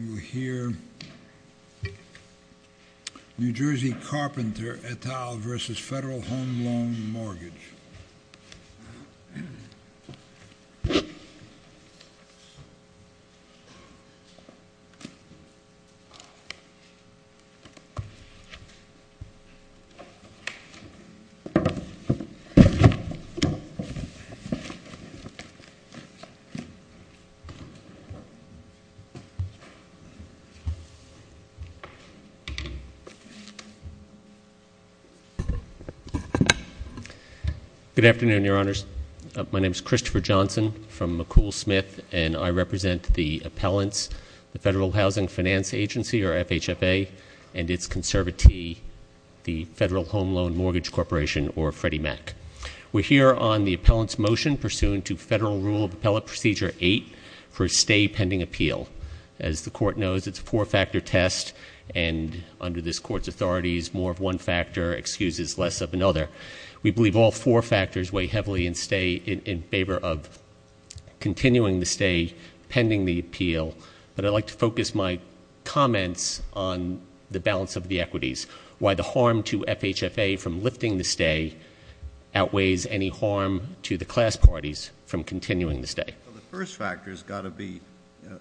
You hear New Jersey Carpenter et al. versus Federal Home Loan Mortgage. Good afternoon, Your Honors. My name is Christopher Johnson from McCool Smith, and I represent the appellants, the Federal Housing Finance Agency, or FHFA, and its conservatee, the Federal Home Loan Mortgage Corporation, or Freddie Mac. We're here on the appellant's motion pursuant to Federal Rule of Appellate Procedure 8 for a stay pending appeal. As the court knows, it's a four-factor test, and under this court's authorities, more of one factor excuses less of another. We believe all four factors weigh heavily in favor of continuing the stay pending the appeal, but I'd like to focus my comments on the balance of the equities, why the harm to FHFA from lifting the stay outweighs any harm to the class parties from continuing the stay. The first factor's got to be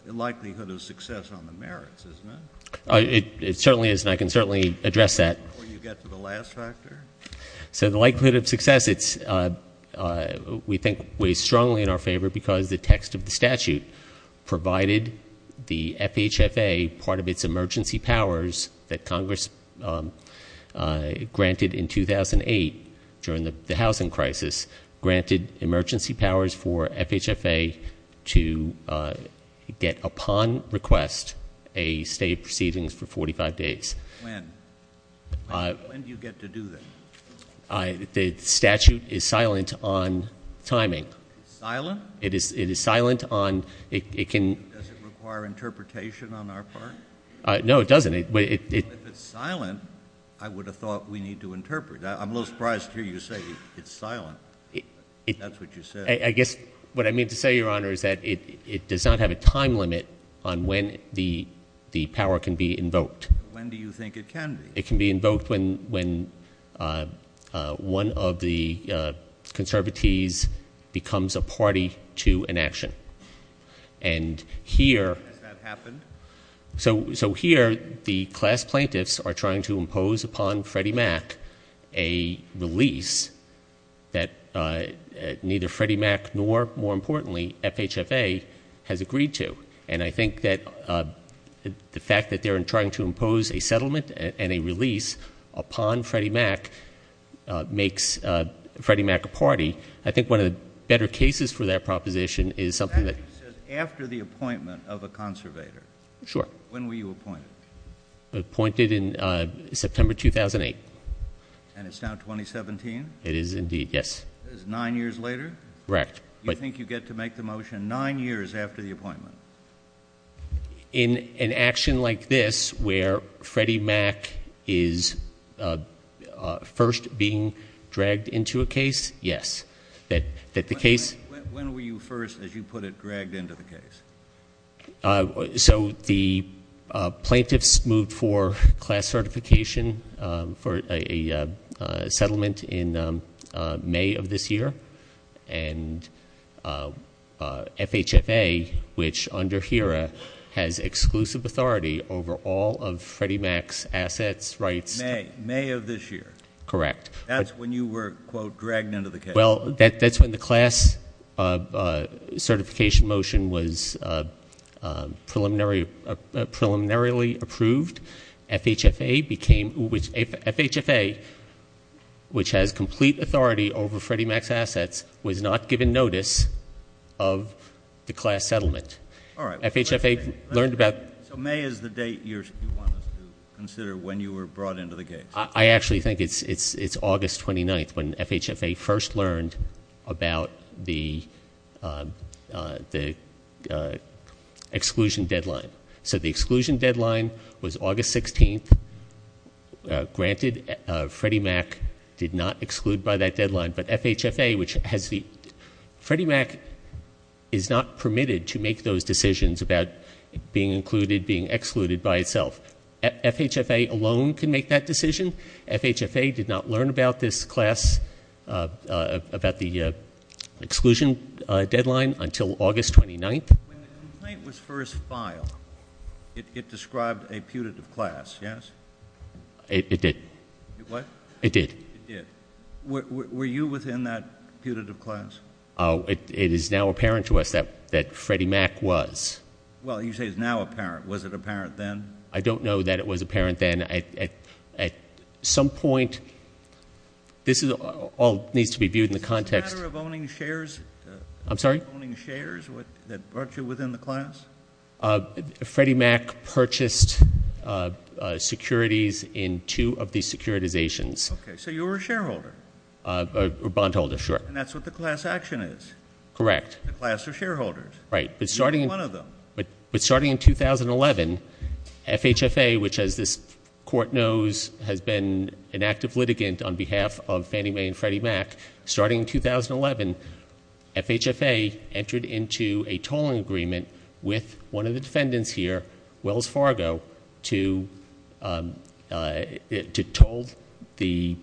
likelihood of success on the merits, isn't it? It certainly is, and I can certainly address that. Will you get to the last factor? So the likelihood of success, we think, weighs strongly in our favor because the text of the statute provided the FHFA part of its emergency powers that Congress granted in 2008 during the housing crisis, granted emergency powers for FHFA to get upon request a stay proceedings for 45 days. When? When do you get to do that? The statute is silent on timing. Silent? It is silent on it can- Does it require interpretation on our part? No, it doesn't. If it's silent, I would have thought we need to interpret. I'm a little surprised to hear you say it's silent. That's what you said. I guess what I mean to say, Your Honor, is that it does not have a time limit on when the power can be invoked. When do you think it can be? It can be invoked when one of the conservatees becomes a party to an action. And here- Has that happened? So here the class plaintiffs are trying to impose upon Freddie Mac a release that neither Freddie Mac nor, more importantly, FHFA has agreed to. And I think that the fact that they're trying to impose a settlement and a release upon Freddie Mac makes Freddie Mac a party. I think one of the better cases for that proposition is something that- Sure. When were you appointed? Appointed in September 2008. And it's now 2017? It is indeed, yes. That is nine years later? Correct. Do you think you get to make the motion nine years after the appointment? In an action like this where Freddie Mac is first being dragged into a case, yes. That the case- When were you first, as you put it, dragged into the case? So the plaintiffs moved for class certification for a settlement in May of this year. And FHFA, which under HERA, has exclusive authority over all of Freddie Mac's assets, rights- May of this year? Correct. That's when you were, quote, dragged into the case? Well, that's when the class certification motion was preliminarily approved. FHFA, which has complete authority over Freddie Mac's assets, was not given notice of the class settlement. All right. FHFA learned about- So May is the date you want us to consider when you were brought into the case? I actually think it's August 29th when FHFA first learned about the exclusion deadline. So the exclusion deadline was August 16th. Granted, Freddie Mac did not exclude by that deadline, but FHFA, which has the- Freddie Mac is not permitted to make those decisions about being included, being excluded by itself. FHFA alone can make that decision. FHFA did not learn about this class, about the exclusion deadline until August 29th. When the complaint was first filed, it described a putative class, yes? It did. What? It did. It did. Were you within that putative class? It is now apparent to us that Freddie Mac was. Well, you say it's now apparent. Was it apparent then? I don't know that it was apparent then. At some point, this all needs to be viewed in the context- Is it a matter of owning shares? I'm sorry? Owning shares that brought you within the class? Freddie Mac purchased securities in two of these securitizations. Okay. So you were a shareholder. A bondholder, sure. And that's what the class action is. Correct. The class of shareholders. Right. You were one of them. But starting in 2011, FHFA, which, as this Court knows, has been an active litigant on behalf of Fannie Mae and Freddie Mac, starting in 2011, FHFA entered into a tolling agreement with one of the defendants here, Wells Fargo, to toll the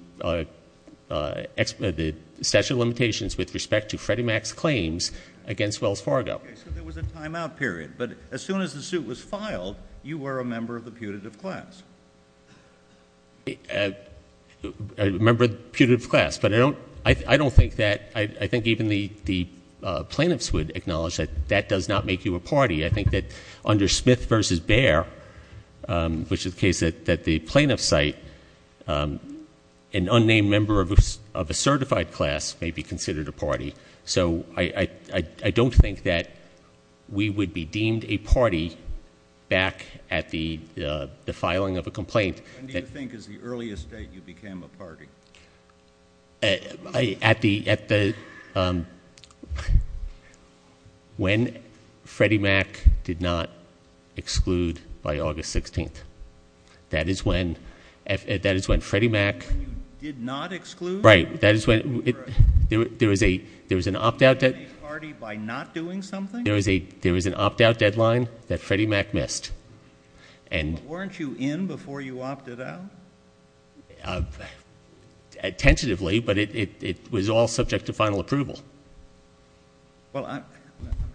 statute of limitations with respect to Freddie Mac's claims against Wells Fargo. Okay. So there was a timeout period. But as soon as the suit was filed, you were a member of the putative class. A member of the putative class. But I don't think that-I think even the plaintiffs would acknowledge that that does not make you a party. I think that under Smith v. Bear, which is the case that the plaintiffs cite, So I don't think that we would be deemed a party back at the filing of a complaint. When do you think is the earliest date you became a party? At the-when Freddie Mac did not exclude by August 16th. That is when Freddie Mac- When you did not exclude? Right. That is when-there was an opt-out- You became a party by not doing something? There was an opt-out deadline that Freddie Mac missed. But weren't you in before you opted out? Tentatively, but it was all subject to final approval. Well, I'm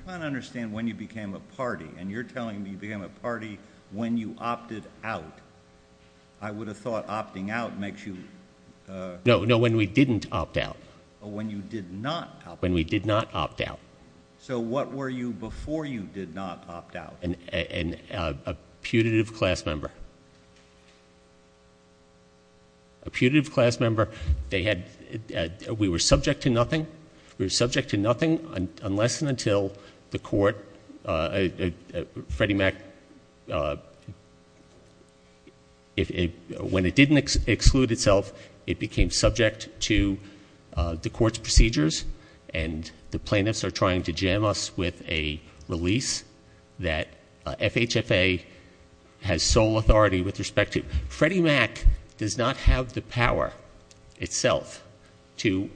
trying to understand when you became a party. And you're telling me you became a party when you opted out. I would have thought opting out makes you- No, no, when we didn't opt out. When you did not opt out? When we did not opt out. So what were you before you did not opt out? A putative class member. A putative class member, they had-we were subject to nothing. We were subject to nothing unless and until the court-Freddie Mac- was subject to the court's procedures. And the plaintiffs are trying to jam us with a release that FHFA has sole authority with respect to. Freddie Mac does not have the power itself to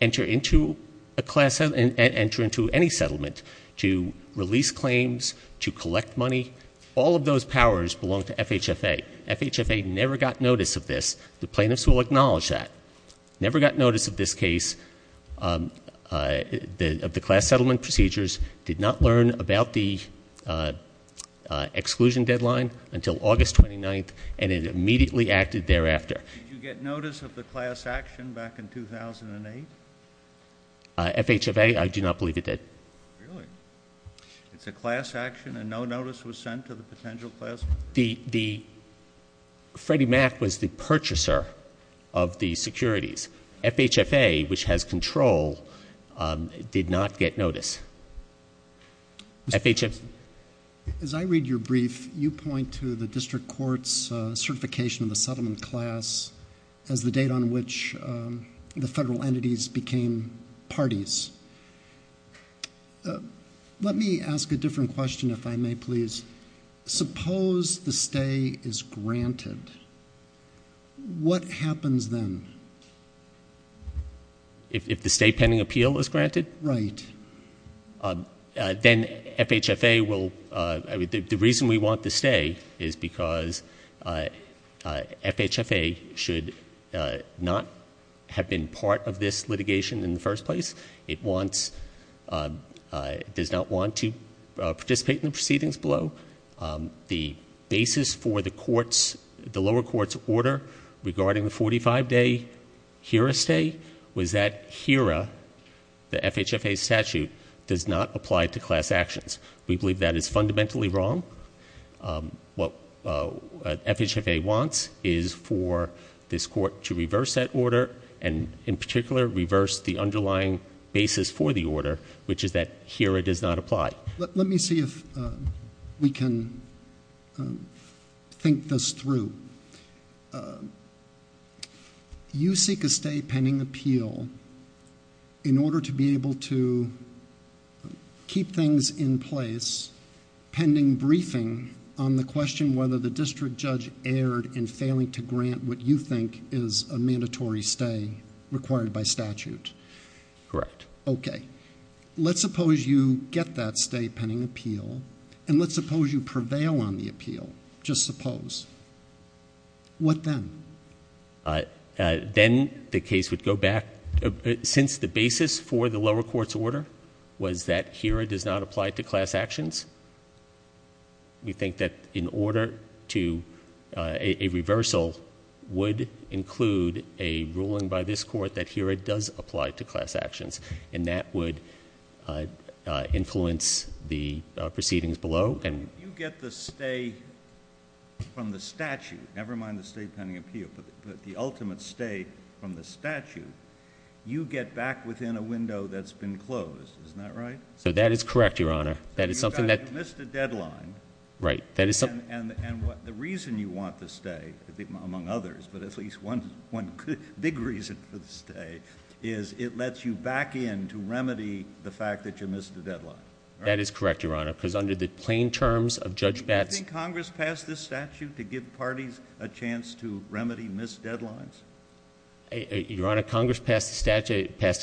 enter into a class- enter into any settlement, to release claims, to collect money. All of those powers belong to FHFA. FHFA never got notice of this. The plaintiffs will acknowledge that. Never got notice of this case, of the class settlement procedures, did not learn about the exclusion deadline until August 29th, and it immediately acted thereafter. Did you get notice of the class action back in 2008? FHFA, I do not believe it did. Really? It's a class action and no notice was sent to the potential class member? The-Freddie Mac was the purchaser of the securities. FHFA, which has control, did not get notice. FHFA- As I read your brief, you point to the district court's certification of the settlement class as the date on which the federal entities became parties. Let me ask a different question, if I may, please. Suppose the stay is granted. What happens then? If the stay pending appeal is granted? Right. Then FHFA will-the reason we want the stay is because FHFA should not have been part of this litigation in the first place. It wants-does not want to participate in the proceedings below. The basis for the courts-the lower court's order regarding the 45-day HERA stay was that HERA, the FHFA statute, does not apply to class actions. We believe that is fundamentally wrong. What FHFA wants is for this court to reverse that order and, in particular, reverse the underlying basis for the order, which is that HERA does not apply. Let me see if we can think this through. You seek a stay pending appeal in order to be able to keep things in place pending briefing on the question whether the district judge erred in failing to grant what you think is a mandatory stay required by statute. Correct. Okay. Let's suppose you get that stay pending appeal, and let's suppose you prevail on the appeal. Just suppose. What then? Then the case would go back-since the basis for the lower court's order was that HERA does not apply to class actions, we think that in order to-a reversal would include a ruling by this court that HERA does apply to class actions, and that would influence the proceedings below. If you get the stay from the statute, never mind the stay pending appeal, but the ultimate stay from the statute, you get back within a window that's been closed. Isn't that right? That is correct, Your Honor. You missed a deadline, and the reason you want the stay, among others, but at least one big reason for the stay, is it lets you back in to remedy the fact that you missed a deadline. That is correct, Your Honor, because under the plain terms of Judge Batts- Do you think Congress passed this statute to give parties a chance to remedy missed deadlines? Your Honor, Congress passed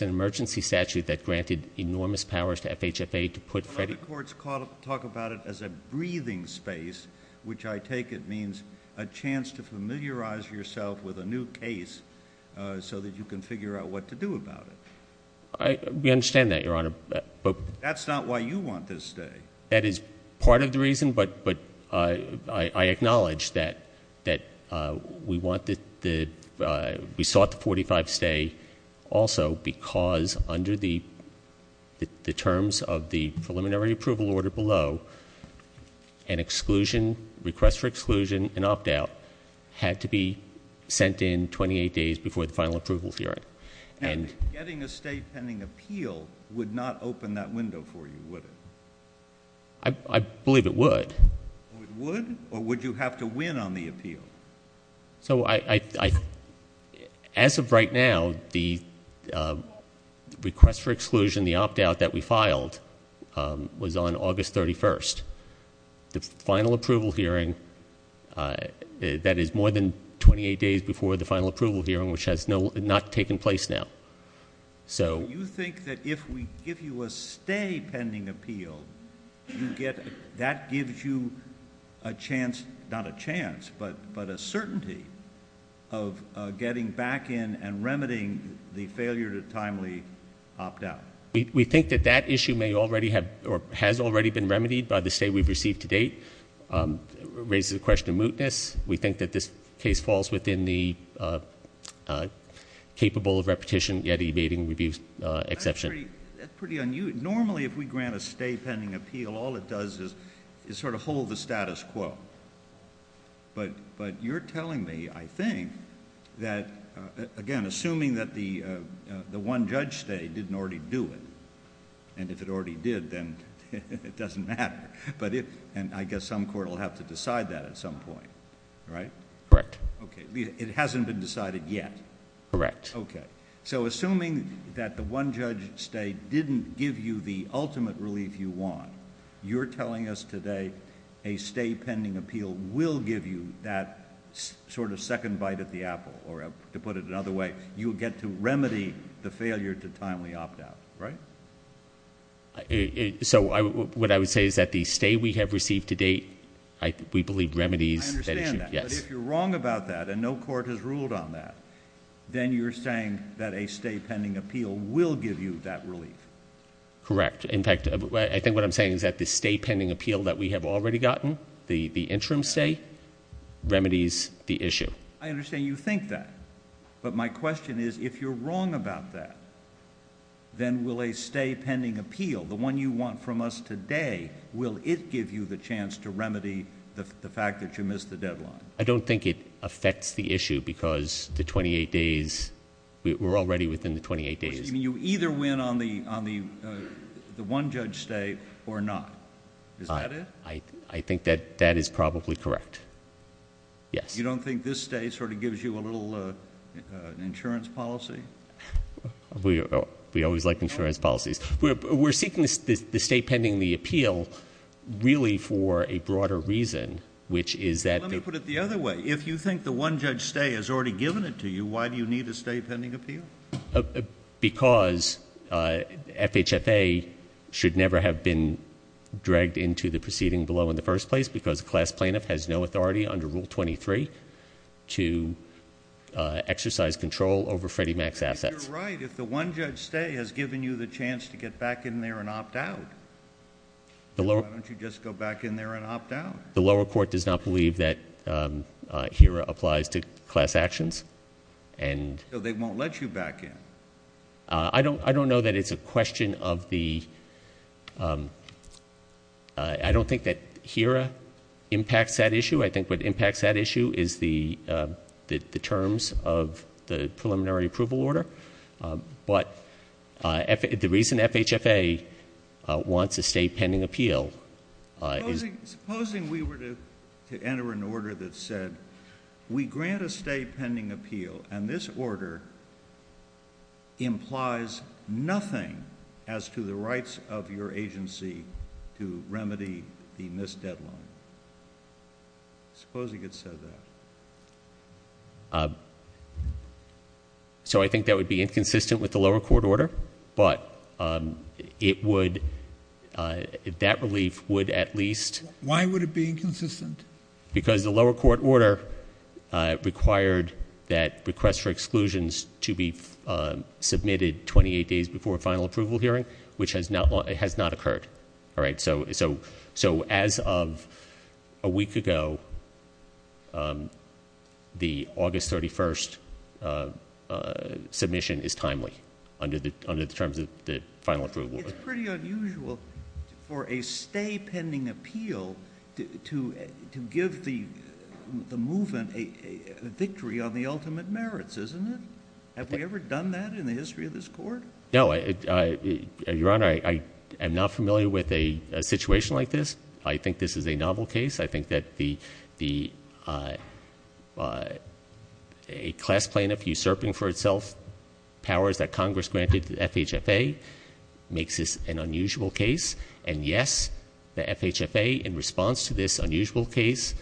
an emergency statute that granted enormous powers to FHFA to put- A lot of courts talk about it as a breathing space, which I take it means a chance to familiarize yourself with a new case so that you can figure out what to do about it. We understand that, Your Honor. That's not why you want this stay. That is part of the reason, but I acknowledge that we sought the 45 stay also because under the terms of the preliminary approval order below, an exclusion, request for exclusion, and opt-out had to be sent in 28 days before the final approval hearing. Getting a stay pending appeal would not open that window for you, would it? I believe it would. It would, or would you have to win on the appeal? As of right now, the request for exclusion, the opt-out that we filed, was on August 31st. The final approval hearing, that is more than 28 days before the final approval hearing, which has not taken place now. You think that if we give you a stay pending appeal, that gives you a chance, not a chance, but a certainty of getting back in and remedying the failure to timely opt-out? We think that that issue may already have or has already been remedied by the stay we've received to date. It raises the question of mootness. We think that this case falls within the capable of repetition yet evading review exception. That's pretty unusual. Normally, if we grant a stay pending appeal, all it does is sort of hold the status quo. You're telling me, I think, that again, assuming that the one-judge stay didn't already do it, and if it already did, then it doesn't matter. I guess some court will have to decide that at some point, right? Correct. It hasn't been decided yet? Correct. Okay. Assuming that the one-judge stay didn't give you the ultimate relief you want, you're telling us today a stay pending appeal will give you that sort of second bite at the apple, or to put it another way, you'll get to remedy the failure to timely opt-out, right? So what I would say is that the stay we have received to date, we believe, remedies that issue. I understand that, but if you're wrong about that and no court has ruled on that, then you're saying that a stay pending appeal will give you that relief. Correct. In fact, I think what I'm saying is that the stay pending appeal that we have already gotten, the interim stay, remedies the issue. I understand you think that, but my question is, if you're wrong about that, then will a stay pending appeal, the one you want from us today, will it give you the chance to remedy the fact that you missed the deadline? I don't think it affects the issue because the 28 days, we're already within the 28 days. You either win on the one-judge stay or not. Is that it? I think that that is probably correct. Yes. You don't think this stay sort of gives you a little insurance policy? We always like insurance policies. We're seeking the stay pending the appeal really for a broader reason, which is that- Let me put it the other way. If you think the one-judge stay has already given it to you, why do you need a stay pending appeal? Because FHFA should never have been dragged into the proceeding below in the first place because a class plaintiff has no authority under Rule 23 to exercise control over Freddie Mac's assets. You're right. If the one-judge stay has given you the chance to get back in there and opt out, why don't you just go back in there and opt out? The lower court does not believe that HERA applies to class actions. So they won't let you back in? I don't know that it's a question of the- I don't think that HERA impacts that issue. I think what impacts that issue is the terms of the preliminary approval order. But the reason FHFA wants a stay pending appeal is- Supposing we were to enter an order that said we grant a stay pending appeal and this order implies nothing as to the rights of your agency to remedy the missed deadline. Supposing it said that. So I think that would be inconsistent with the lower court order, but that relief would at least- Why would it be inconsistent? Because the lower court order required that requests for exclusions to be submitted 28 days before a final approval hearing, which has not occurred. So as of a week ago, the August 31st submission is timely under the terms of the final approval. It's pretty unusual for a stay pending appeal to give the movement a victory on the ultimate merits, isn't it? Have we ever done that in the history of this court? No. Your Honor, I am not familiar with a situation like this. I think this is a novel case. I think that a class plaintiff usurping for itself powers that Congress granted to FHFA makes this an unusual case. And yes, the FHFA, in response to this unusual case,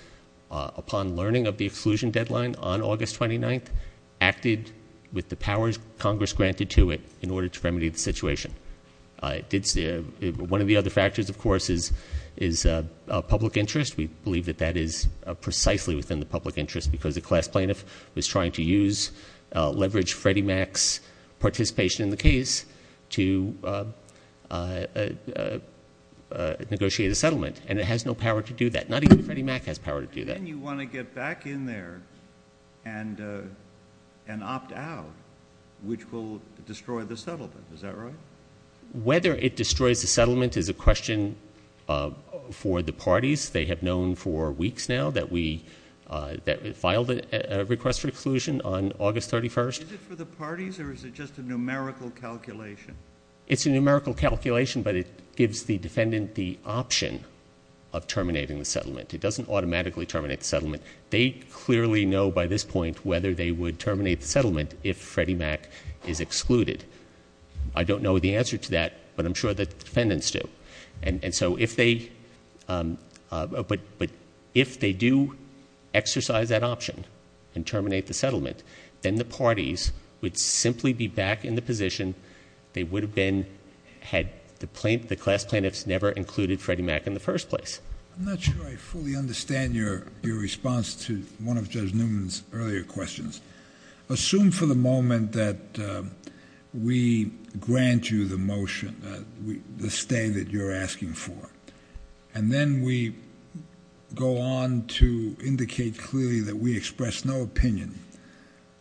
upon learning of the exclusion deadline on August 29th, with the powers Congress granted to it in order to remedy the situation. One of the other factors, of course, is public interest. We believe that that is precisely within the public interest because the class plaintiff was trying to use, leverage Freddie Mac's participation in the case to negotiate a settlement. And it has no power to do that. Not even Freddie Mac has power to do that. Then you want to get back in there and opt out, which will destroy the settlement. Is that right? Whether it destroys the settlement is a question for the parties. They have known for weeks now that we filed a request for exclusion on August 31st. Is it for the parties or is it just a numerical calculation? It's a numerical calculation, but it gives the defendant the option of terminating the settlement. It doesn't automatically terminate the settlement. They clearly know by this point whether they would terminate the settlement if Freddie Mac is excluded. I don't know the answer to that, but I'm sure the defendants do. And so if they do exercise that option and terminate the settlement, then the parties would simply be back in the position they would have been had the class plaintiffs never included Freddie Mac in the first place. I'm not sure I fully understand your response to one of Judge Newman's earlier questions. Assume for the moment that we grant you the motion, the stay that you're asking for, and then we go on to indicate clearly that we express no opinion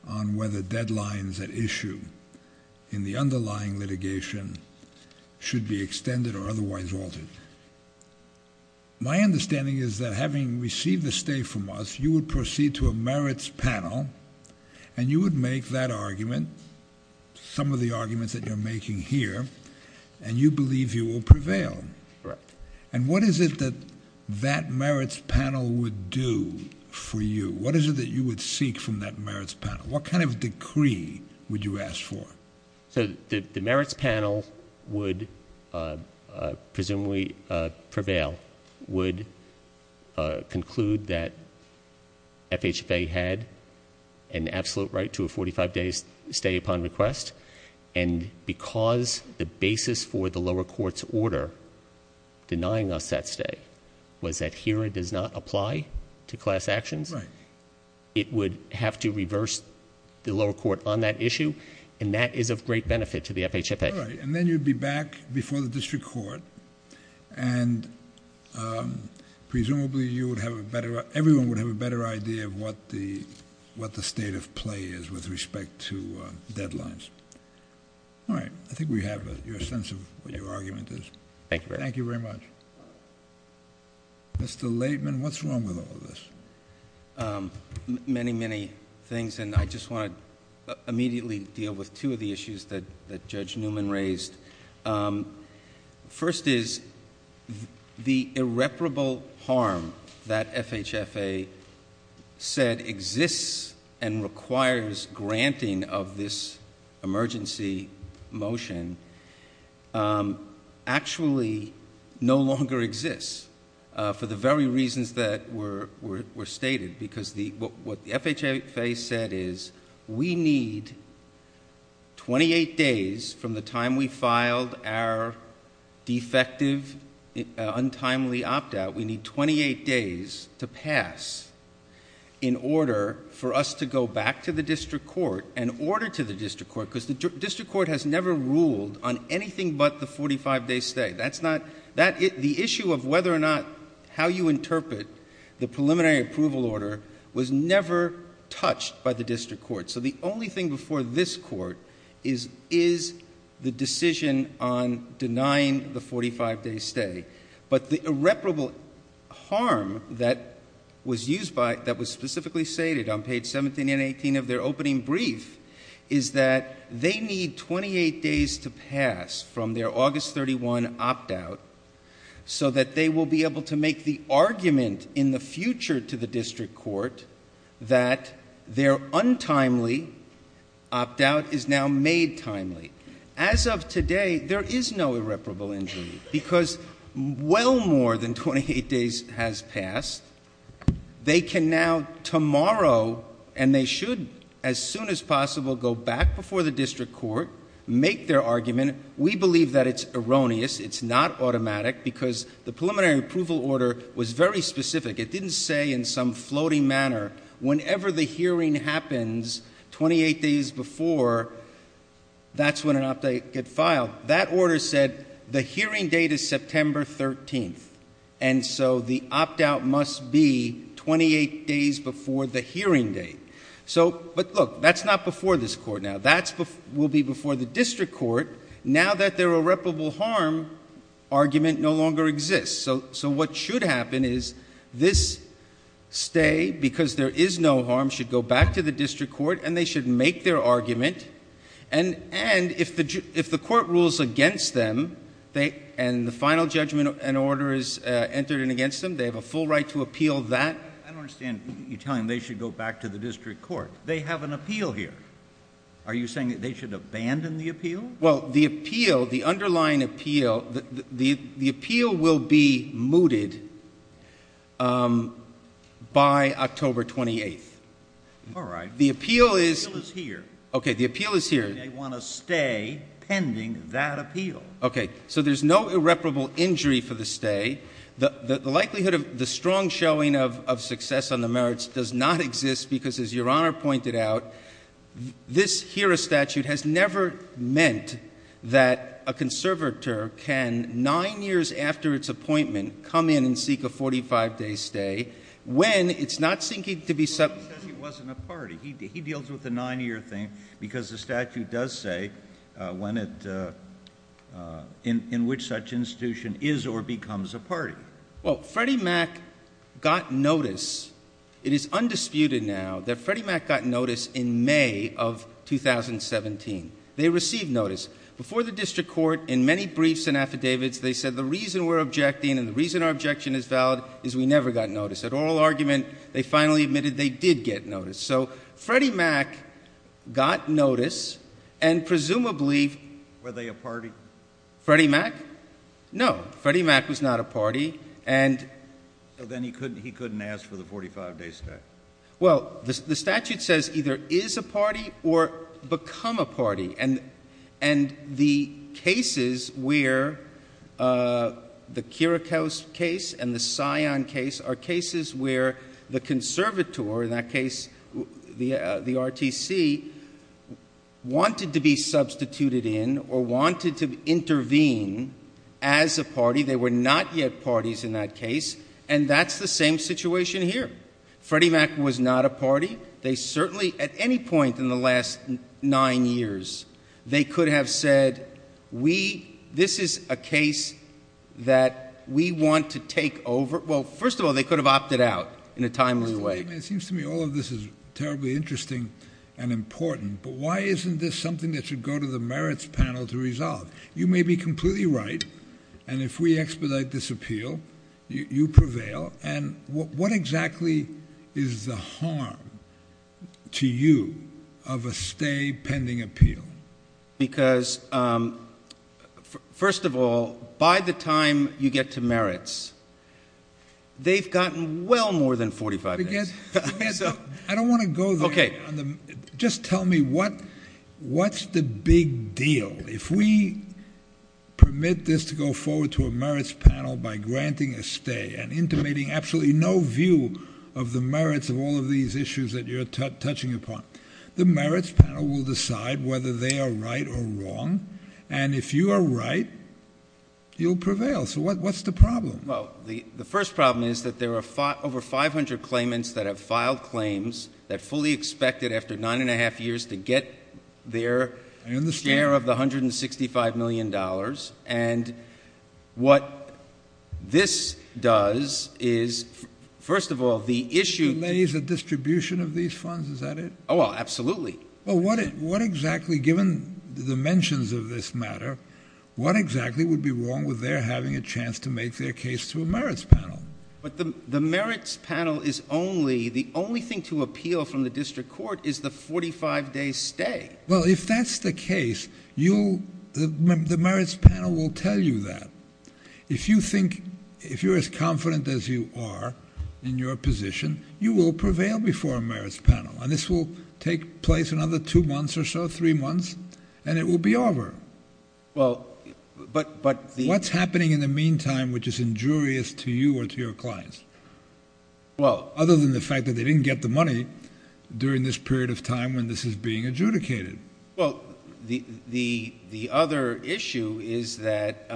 on whether deadlines at issue in the underlying litigation should be extended or otherwise altered. My understanding is that having received the stay from us, you would proceed to a merits panel, and you would make that argument, some of the arguments that you're making here, and you believe you will prevail. Correct. And what is it that that merits panel would do for you? What is it that you would seek from that merits panel? What kind of decree would you ask for? So the merits panel would presumably prevail, would conclude that FHFA had an absolute right to a 45-day stay upon request, and because the basis for the lower court's order denying us that stay was that HERA does not apply to class actions. Right. It would have to reverse the lower court on that issue, and that is of great benefit to the FHFA. All right, and then you'd be back before the district court, and presumably everyone would have a better idea of what the state of play is with respect to deadlines. All right. I think we have your sense of what your argument is. Thank you very much. Thank you very much. Mr. Laitman, what's wrong with all of this? Many, many things, and I just want to immediately deal with two of the issues that Judge Newman raised. First is the irreparable harm that FHFA said exists and requires granting of this emergency motion actually no longer exists for the very reasons that were stated, because what the FHFA said is we need 28 days from the time we filed our defective, untimely opt-out, we need 28 days to pass in order for us to go back to the district court and order to the district court, because the district court has never ruled on anything but the 45-day stay. The issue of whether or not how you interpret the preliminary approval order was never touched by the district court, so the only thing before this court is the decision on denying the 45-day stay. But the irreparable harm that was specifically stated on page 17 and 18 of their opening brief is that they need 28 days to pass from their August 31 opt-out so that they will be able to make the argument in the future to the district court that their untimely opt-out is now made timely. As of today, there is no irreparable injury, because well more than 28 days has passed. They can now tomorrow, and they should as soon as possible, go back before the district court, make their argument. We believe that it's erroneous, it's not automatic, because the preliminary approval order was very specific. It didn't say in some floating manner, whenever the hearing happens 28 days before, that's when an opt-out gets filed. Now, that order said the hearing date is September 13th, and so the opt-out must be 28 days before the hearing date. But look, that's not before this court now. That will be before the district court now that their irreparable harm argument no longer exists. So what should happen is this stay, because there is no harm, should go back to the district court, and they should make their argument. And if the court rules against them, and the final judgment and order is entered against them, they have a full right to appeal that. I don't understand you telling them they should go back to the district court. They have an appeal here. Are you saying that they should abandon the appeal? Well, the appeal, the underlying appeal, the appeal will be mooted by October 28th. All right. The appeal is here. Okay. The appeal is here. They want to stay pending that appeal. Okay. So there's no irreparable injury for the stay. The likelihood of the strong showing of success on the merits does not exist because, as Your Honor pointed out, this HERA statute has never meant that a conservator can, 9 years after its appointment, come in and seek a 45-day stay when it's not seeking to be subpoenaed. He says he wasn't a party. He deals with the 9-year thing because the statute does say when it, in which such institution is or becomes a party. Well, Freddie Mac got notice. It is undisputed now that Freddie Mac got notice in May of 2017. They received notice. Before the district court, in many briefs and affidavits, they said the reason we're objecting and the reason our objection is valid is we never got notice. At oral argument, they finally admitted they did get notice. So Freddie Mac got notice and presumably... Were they a party? Freddie Mac? No. Freddie Mac was not a party. And... So then he couldn't ask for the 45-day stay. Well, the statute says either is a party or become a party. And the cases where the Kirikou case and the Scion case are cases where the conservator, in that case the RTC, wanted to be substituted in or wanted to intervene as a party. They were not yet parties in that case. And that's the same situation here. Freddie Mac was not a party. They certainly, at any point in the last nine years, they could have said we... This is a case that we want to take over. Well, first of all, they could have opted out in a timely way. It seems to me all of this is terribly interesting and important. But why isn't this something that should go to the merits panel to resolve? You may be completely right. And if we expedite this appeal, you prevail. And what exactly is the harm to you of a stay pending appeal? Because, first of all, by the time you get to merits, they've gotten well more than 45 days. I don't want to go there. Okay. Just tell me what's the big deal. If we permit this to go forward to a merits panel by granting a stay and intimating absolutely no view of the merits of all of these issues that you're touching upon, the merits panel will decide whether they are right or wrong. And if you are right, you'll prevail. So what's the problem? Well, the first problem is that there are over 500 claimants that have filed claims that fully expected after nine and a half years to get their share of the $165 million. And what this does is, first of all, the issue of the distribution of these funds, is that it? Oh, absolutely. Well, what exactly, given the dimensions of this matter, what exactly would be wrong with their having a chance to make their case to a merits panel? But the merits panel is only, the only thing to appeal from the district court is the 45-day stay. Well, if that's the case, you'll, the merits panel will tell you that. If you think, if you're as confident as you are in your position, you will prevail before a merits panel. And this will take place another two months or so, three months, and it will be over. Well, but the? What's happening in the meantime which is injurious to you or to your clients? Well. Other than the fact that they didn't get the money during this period of time when this is being adjudicated. Well, the other issue is that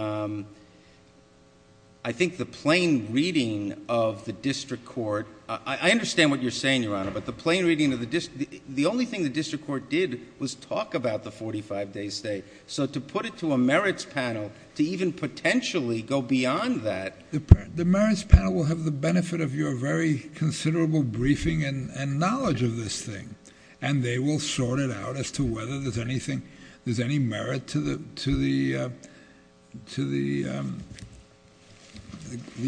I think the plain reading of the district court, I understand what you're saying, Your Honor, but the plain reading of the district, the only thing the district court did was talk about the 45-day stay. So to put it to a merits panel, to even potentially go beyond that. The merits panel will have the benefit of your very considerable briefing and knowledge of this thing. And they will sort it out as to whether there's anything, there's any merit to the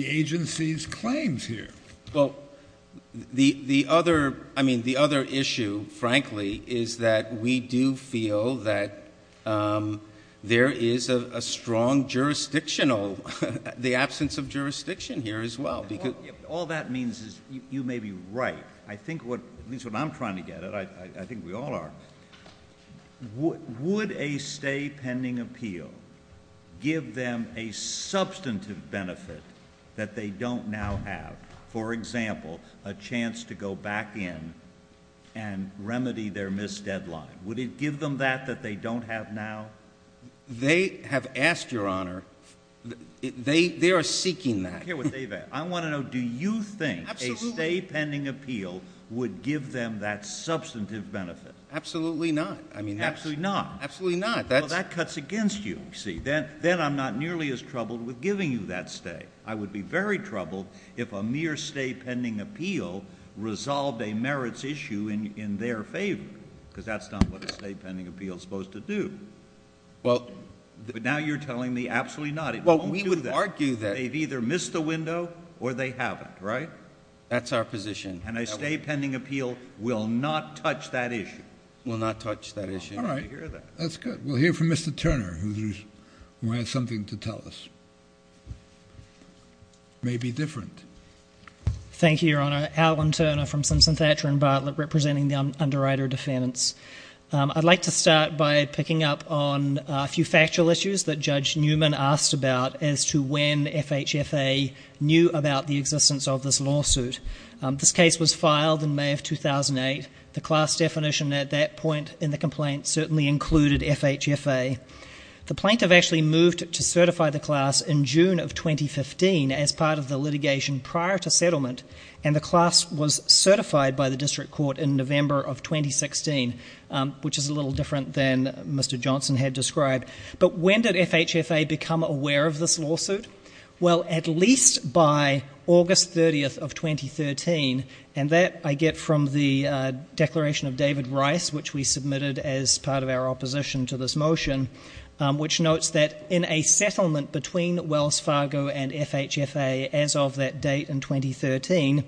agency's claims here. Well, the other, I mean, the other issue, frankly, is that we do feel that there is a strong jurisdictional, the absence of jurisdiction here as well. All that means is you may be right. I think what, at least what I'm trying to get at, I think we all are. Would a stay pending appeal give them a substantive benefit that they don't now have? For example, a chance to go back in and remedy their missed deadline. Would it give them that that they don't have now? They have asked, Your Honor, they are seeking that. I don't care what they've asked. I want to know, do you think a stay pending appeal would give them that substantive benefit? Absolutely not. Absolutely not. Absolutely not. Well, that cuts against you, you see. Then I'm not nearly as troubled with giving you that stay. I would be very troubled if a mere stay pending appeal resolved a merits issue in their favor, because that's not what a stay pending appeal is supposed to do. But now you're telling me absolutely not. It won't do that. Well, we would argue that. They've either missed the window or they haven't, right? That's our position. And a stay pending appeal will not touch that issue. Will not touch that issue. All right. That's good. We'll hear from Mr. Turner, who has something to tell us. It may be different. Thank you, Your Honor. Alan Turner from Simpson, Thatcher & Bartlett, representing the underwriter defendants. I'd like to start by picking up on a few factual issues that Judge Newman asked about as to when FHFA knew about the existence of this lawsuit. This case was filed in May of 2008. The class definition at that point in the complaint certainly included FHFA. The plaintiff actually moved to certify the class in June of 2015 as part of the litigation prior to settlement, and the class was certified by the district court in November of 2016, which is a little different than Mr. Johnson had described. But when did FHFA become aware of this lawsuit? Well, at least by August 30th of 2013, and that I get from the declaration of David Rice, which we submitted as part of our opposition to this motion, which notes that in a settlement between Wells Fargo and FHFA as of that date in 2013,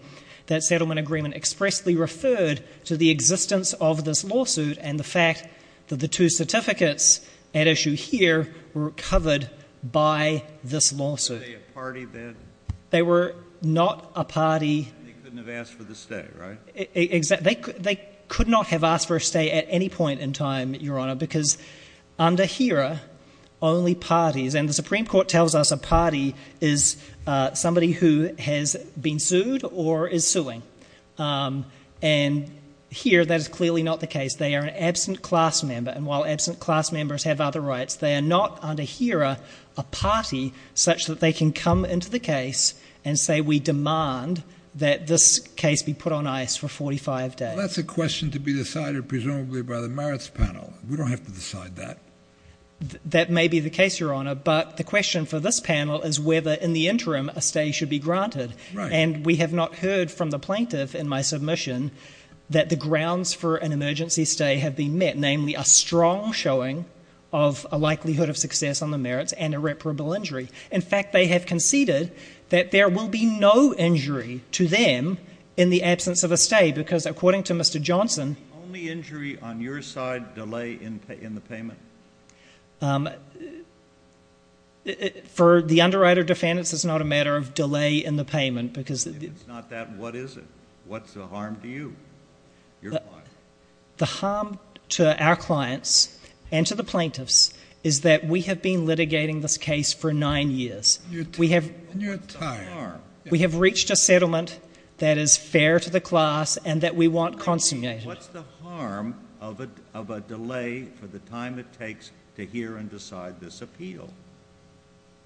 that settlement agreement expressly referred to the existence of this lawsuit and the fact that the two certificates at issue here were covered by this lawsuit. Were they a party bid? They were not a party. They couldn't have asked for the stay, right? Exactly. They could not have asked for a stay at any point in time, Your Honor, because under HERA, only parties, and the Supreme Court tells us a party is somebody who has been sued or is suing. And here that is clearly not the case. They are an absent class member, and while absent class members have other rights, they are not under HERA a party such that they can come into the case and say we demand that this case be put on ice for 45 days. Well, that's a question to be decided presumably by the merits panel. We don't have to decide that. That may be the case, Your Honor, but the question for this panel is whether in the interim a stay should be granted. Right. And we have not heard from the plaintiff in my submission that the grounds for an emergency stay have been met, namely a strong showing of a likelihood of success on the merits and irreparable injury. In fact, they have conceded that there will be no injury to them in the absence of a stay because, according to Mr. Johnson, Is the only injury on your side delay in the payment? For the underwriter defendants, it's not a matter of delay in the payment because If it's not that, what is it? What's the harm to you? The harm to our clients and to the plaintiffs is that we have been litigating this case for nine years. We have reached a settlement that is fair to the class and that we want consummated. What's the harm of a delay for the time it takes to hear and decide this appeal?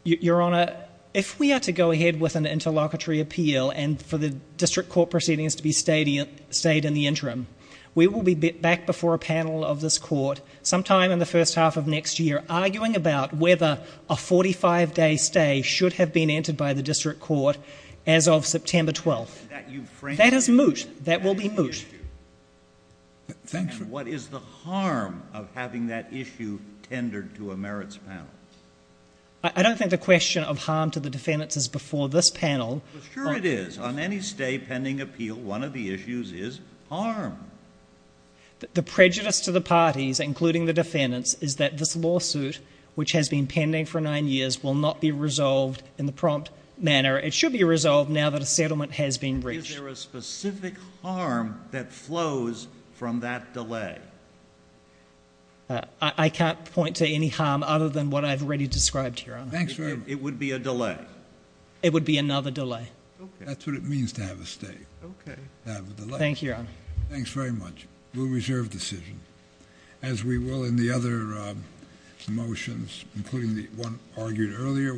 Your Honor, if we are to go ahead with an interlocutory appeal and for the district court proceedings to be stayed in the interim, we will be back before a panel of this court sometime in the first half of next year arguing about whether a 45-day stay should have been entered by the district court as of September 12th. That is moot. That will be moot. And what is the harm of having that issue tendered to a merits panel? I don't think the question of harm to the defendants is before this panel. Sure it is. On any stay pending appeal, one of the issues is harm. The prejudice to the parties, including the defendants, is that this lawsuit, which has been pending for nine years, will not be resolved in the prompt manner. It should be resolved now that a settlement has been reached. Is there a specific harm that flows from that delay? I can't point to any harm other than what I've already described, Your Honor. It would be a delay? It would be another delay. That's what it means to have a stay, to have a delay. Thank you, Your Honor. Thanks very much. We'll reserve the decision. As we will in the other motions, including the one argued earlier.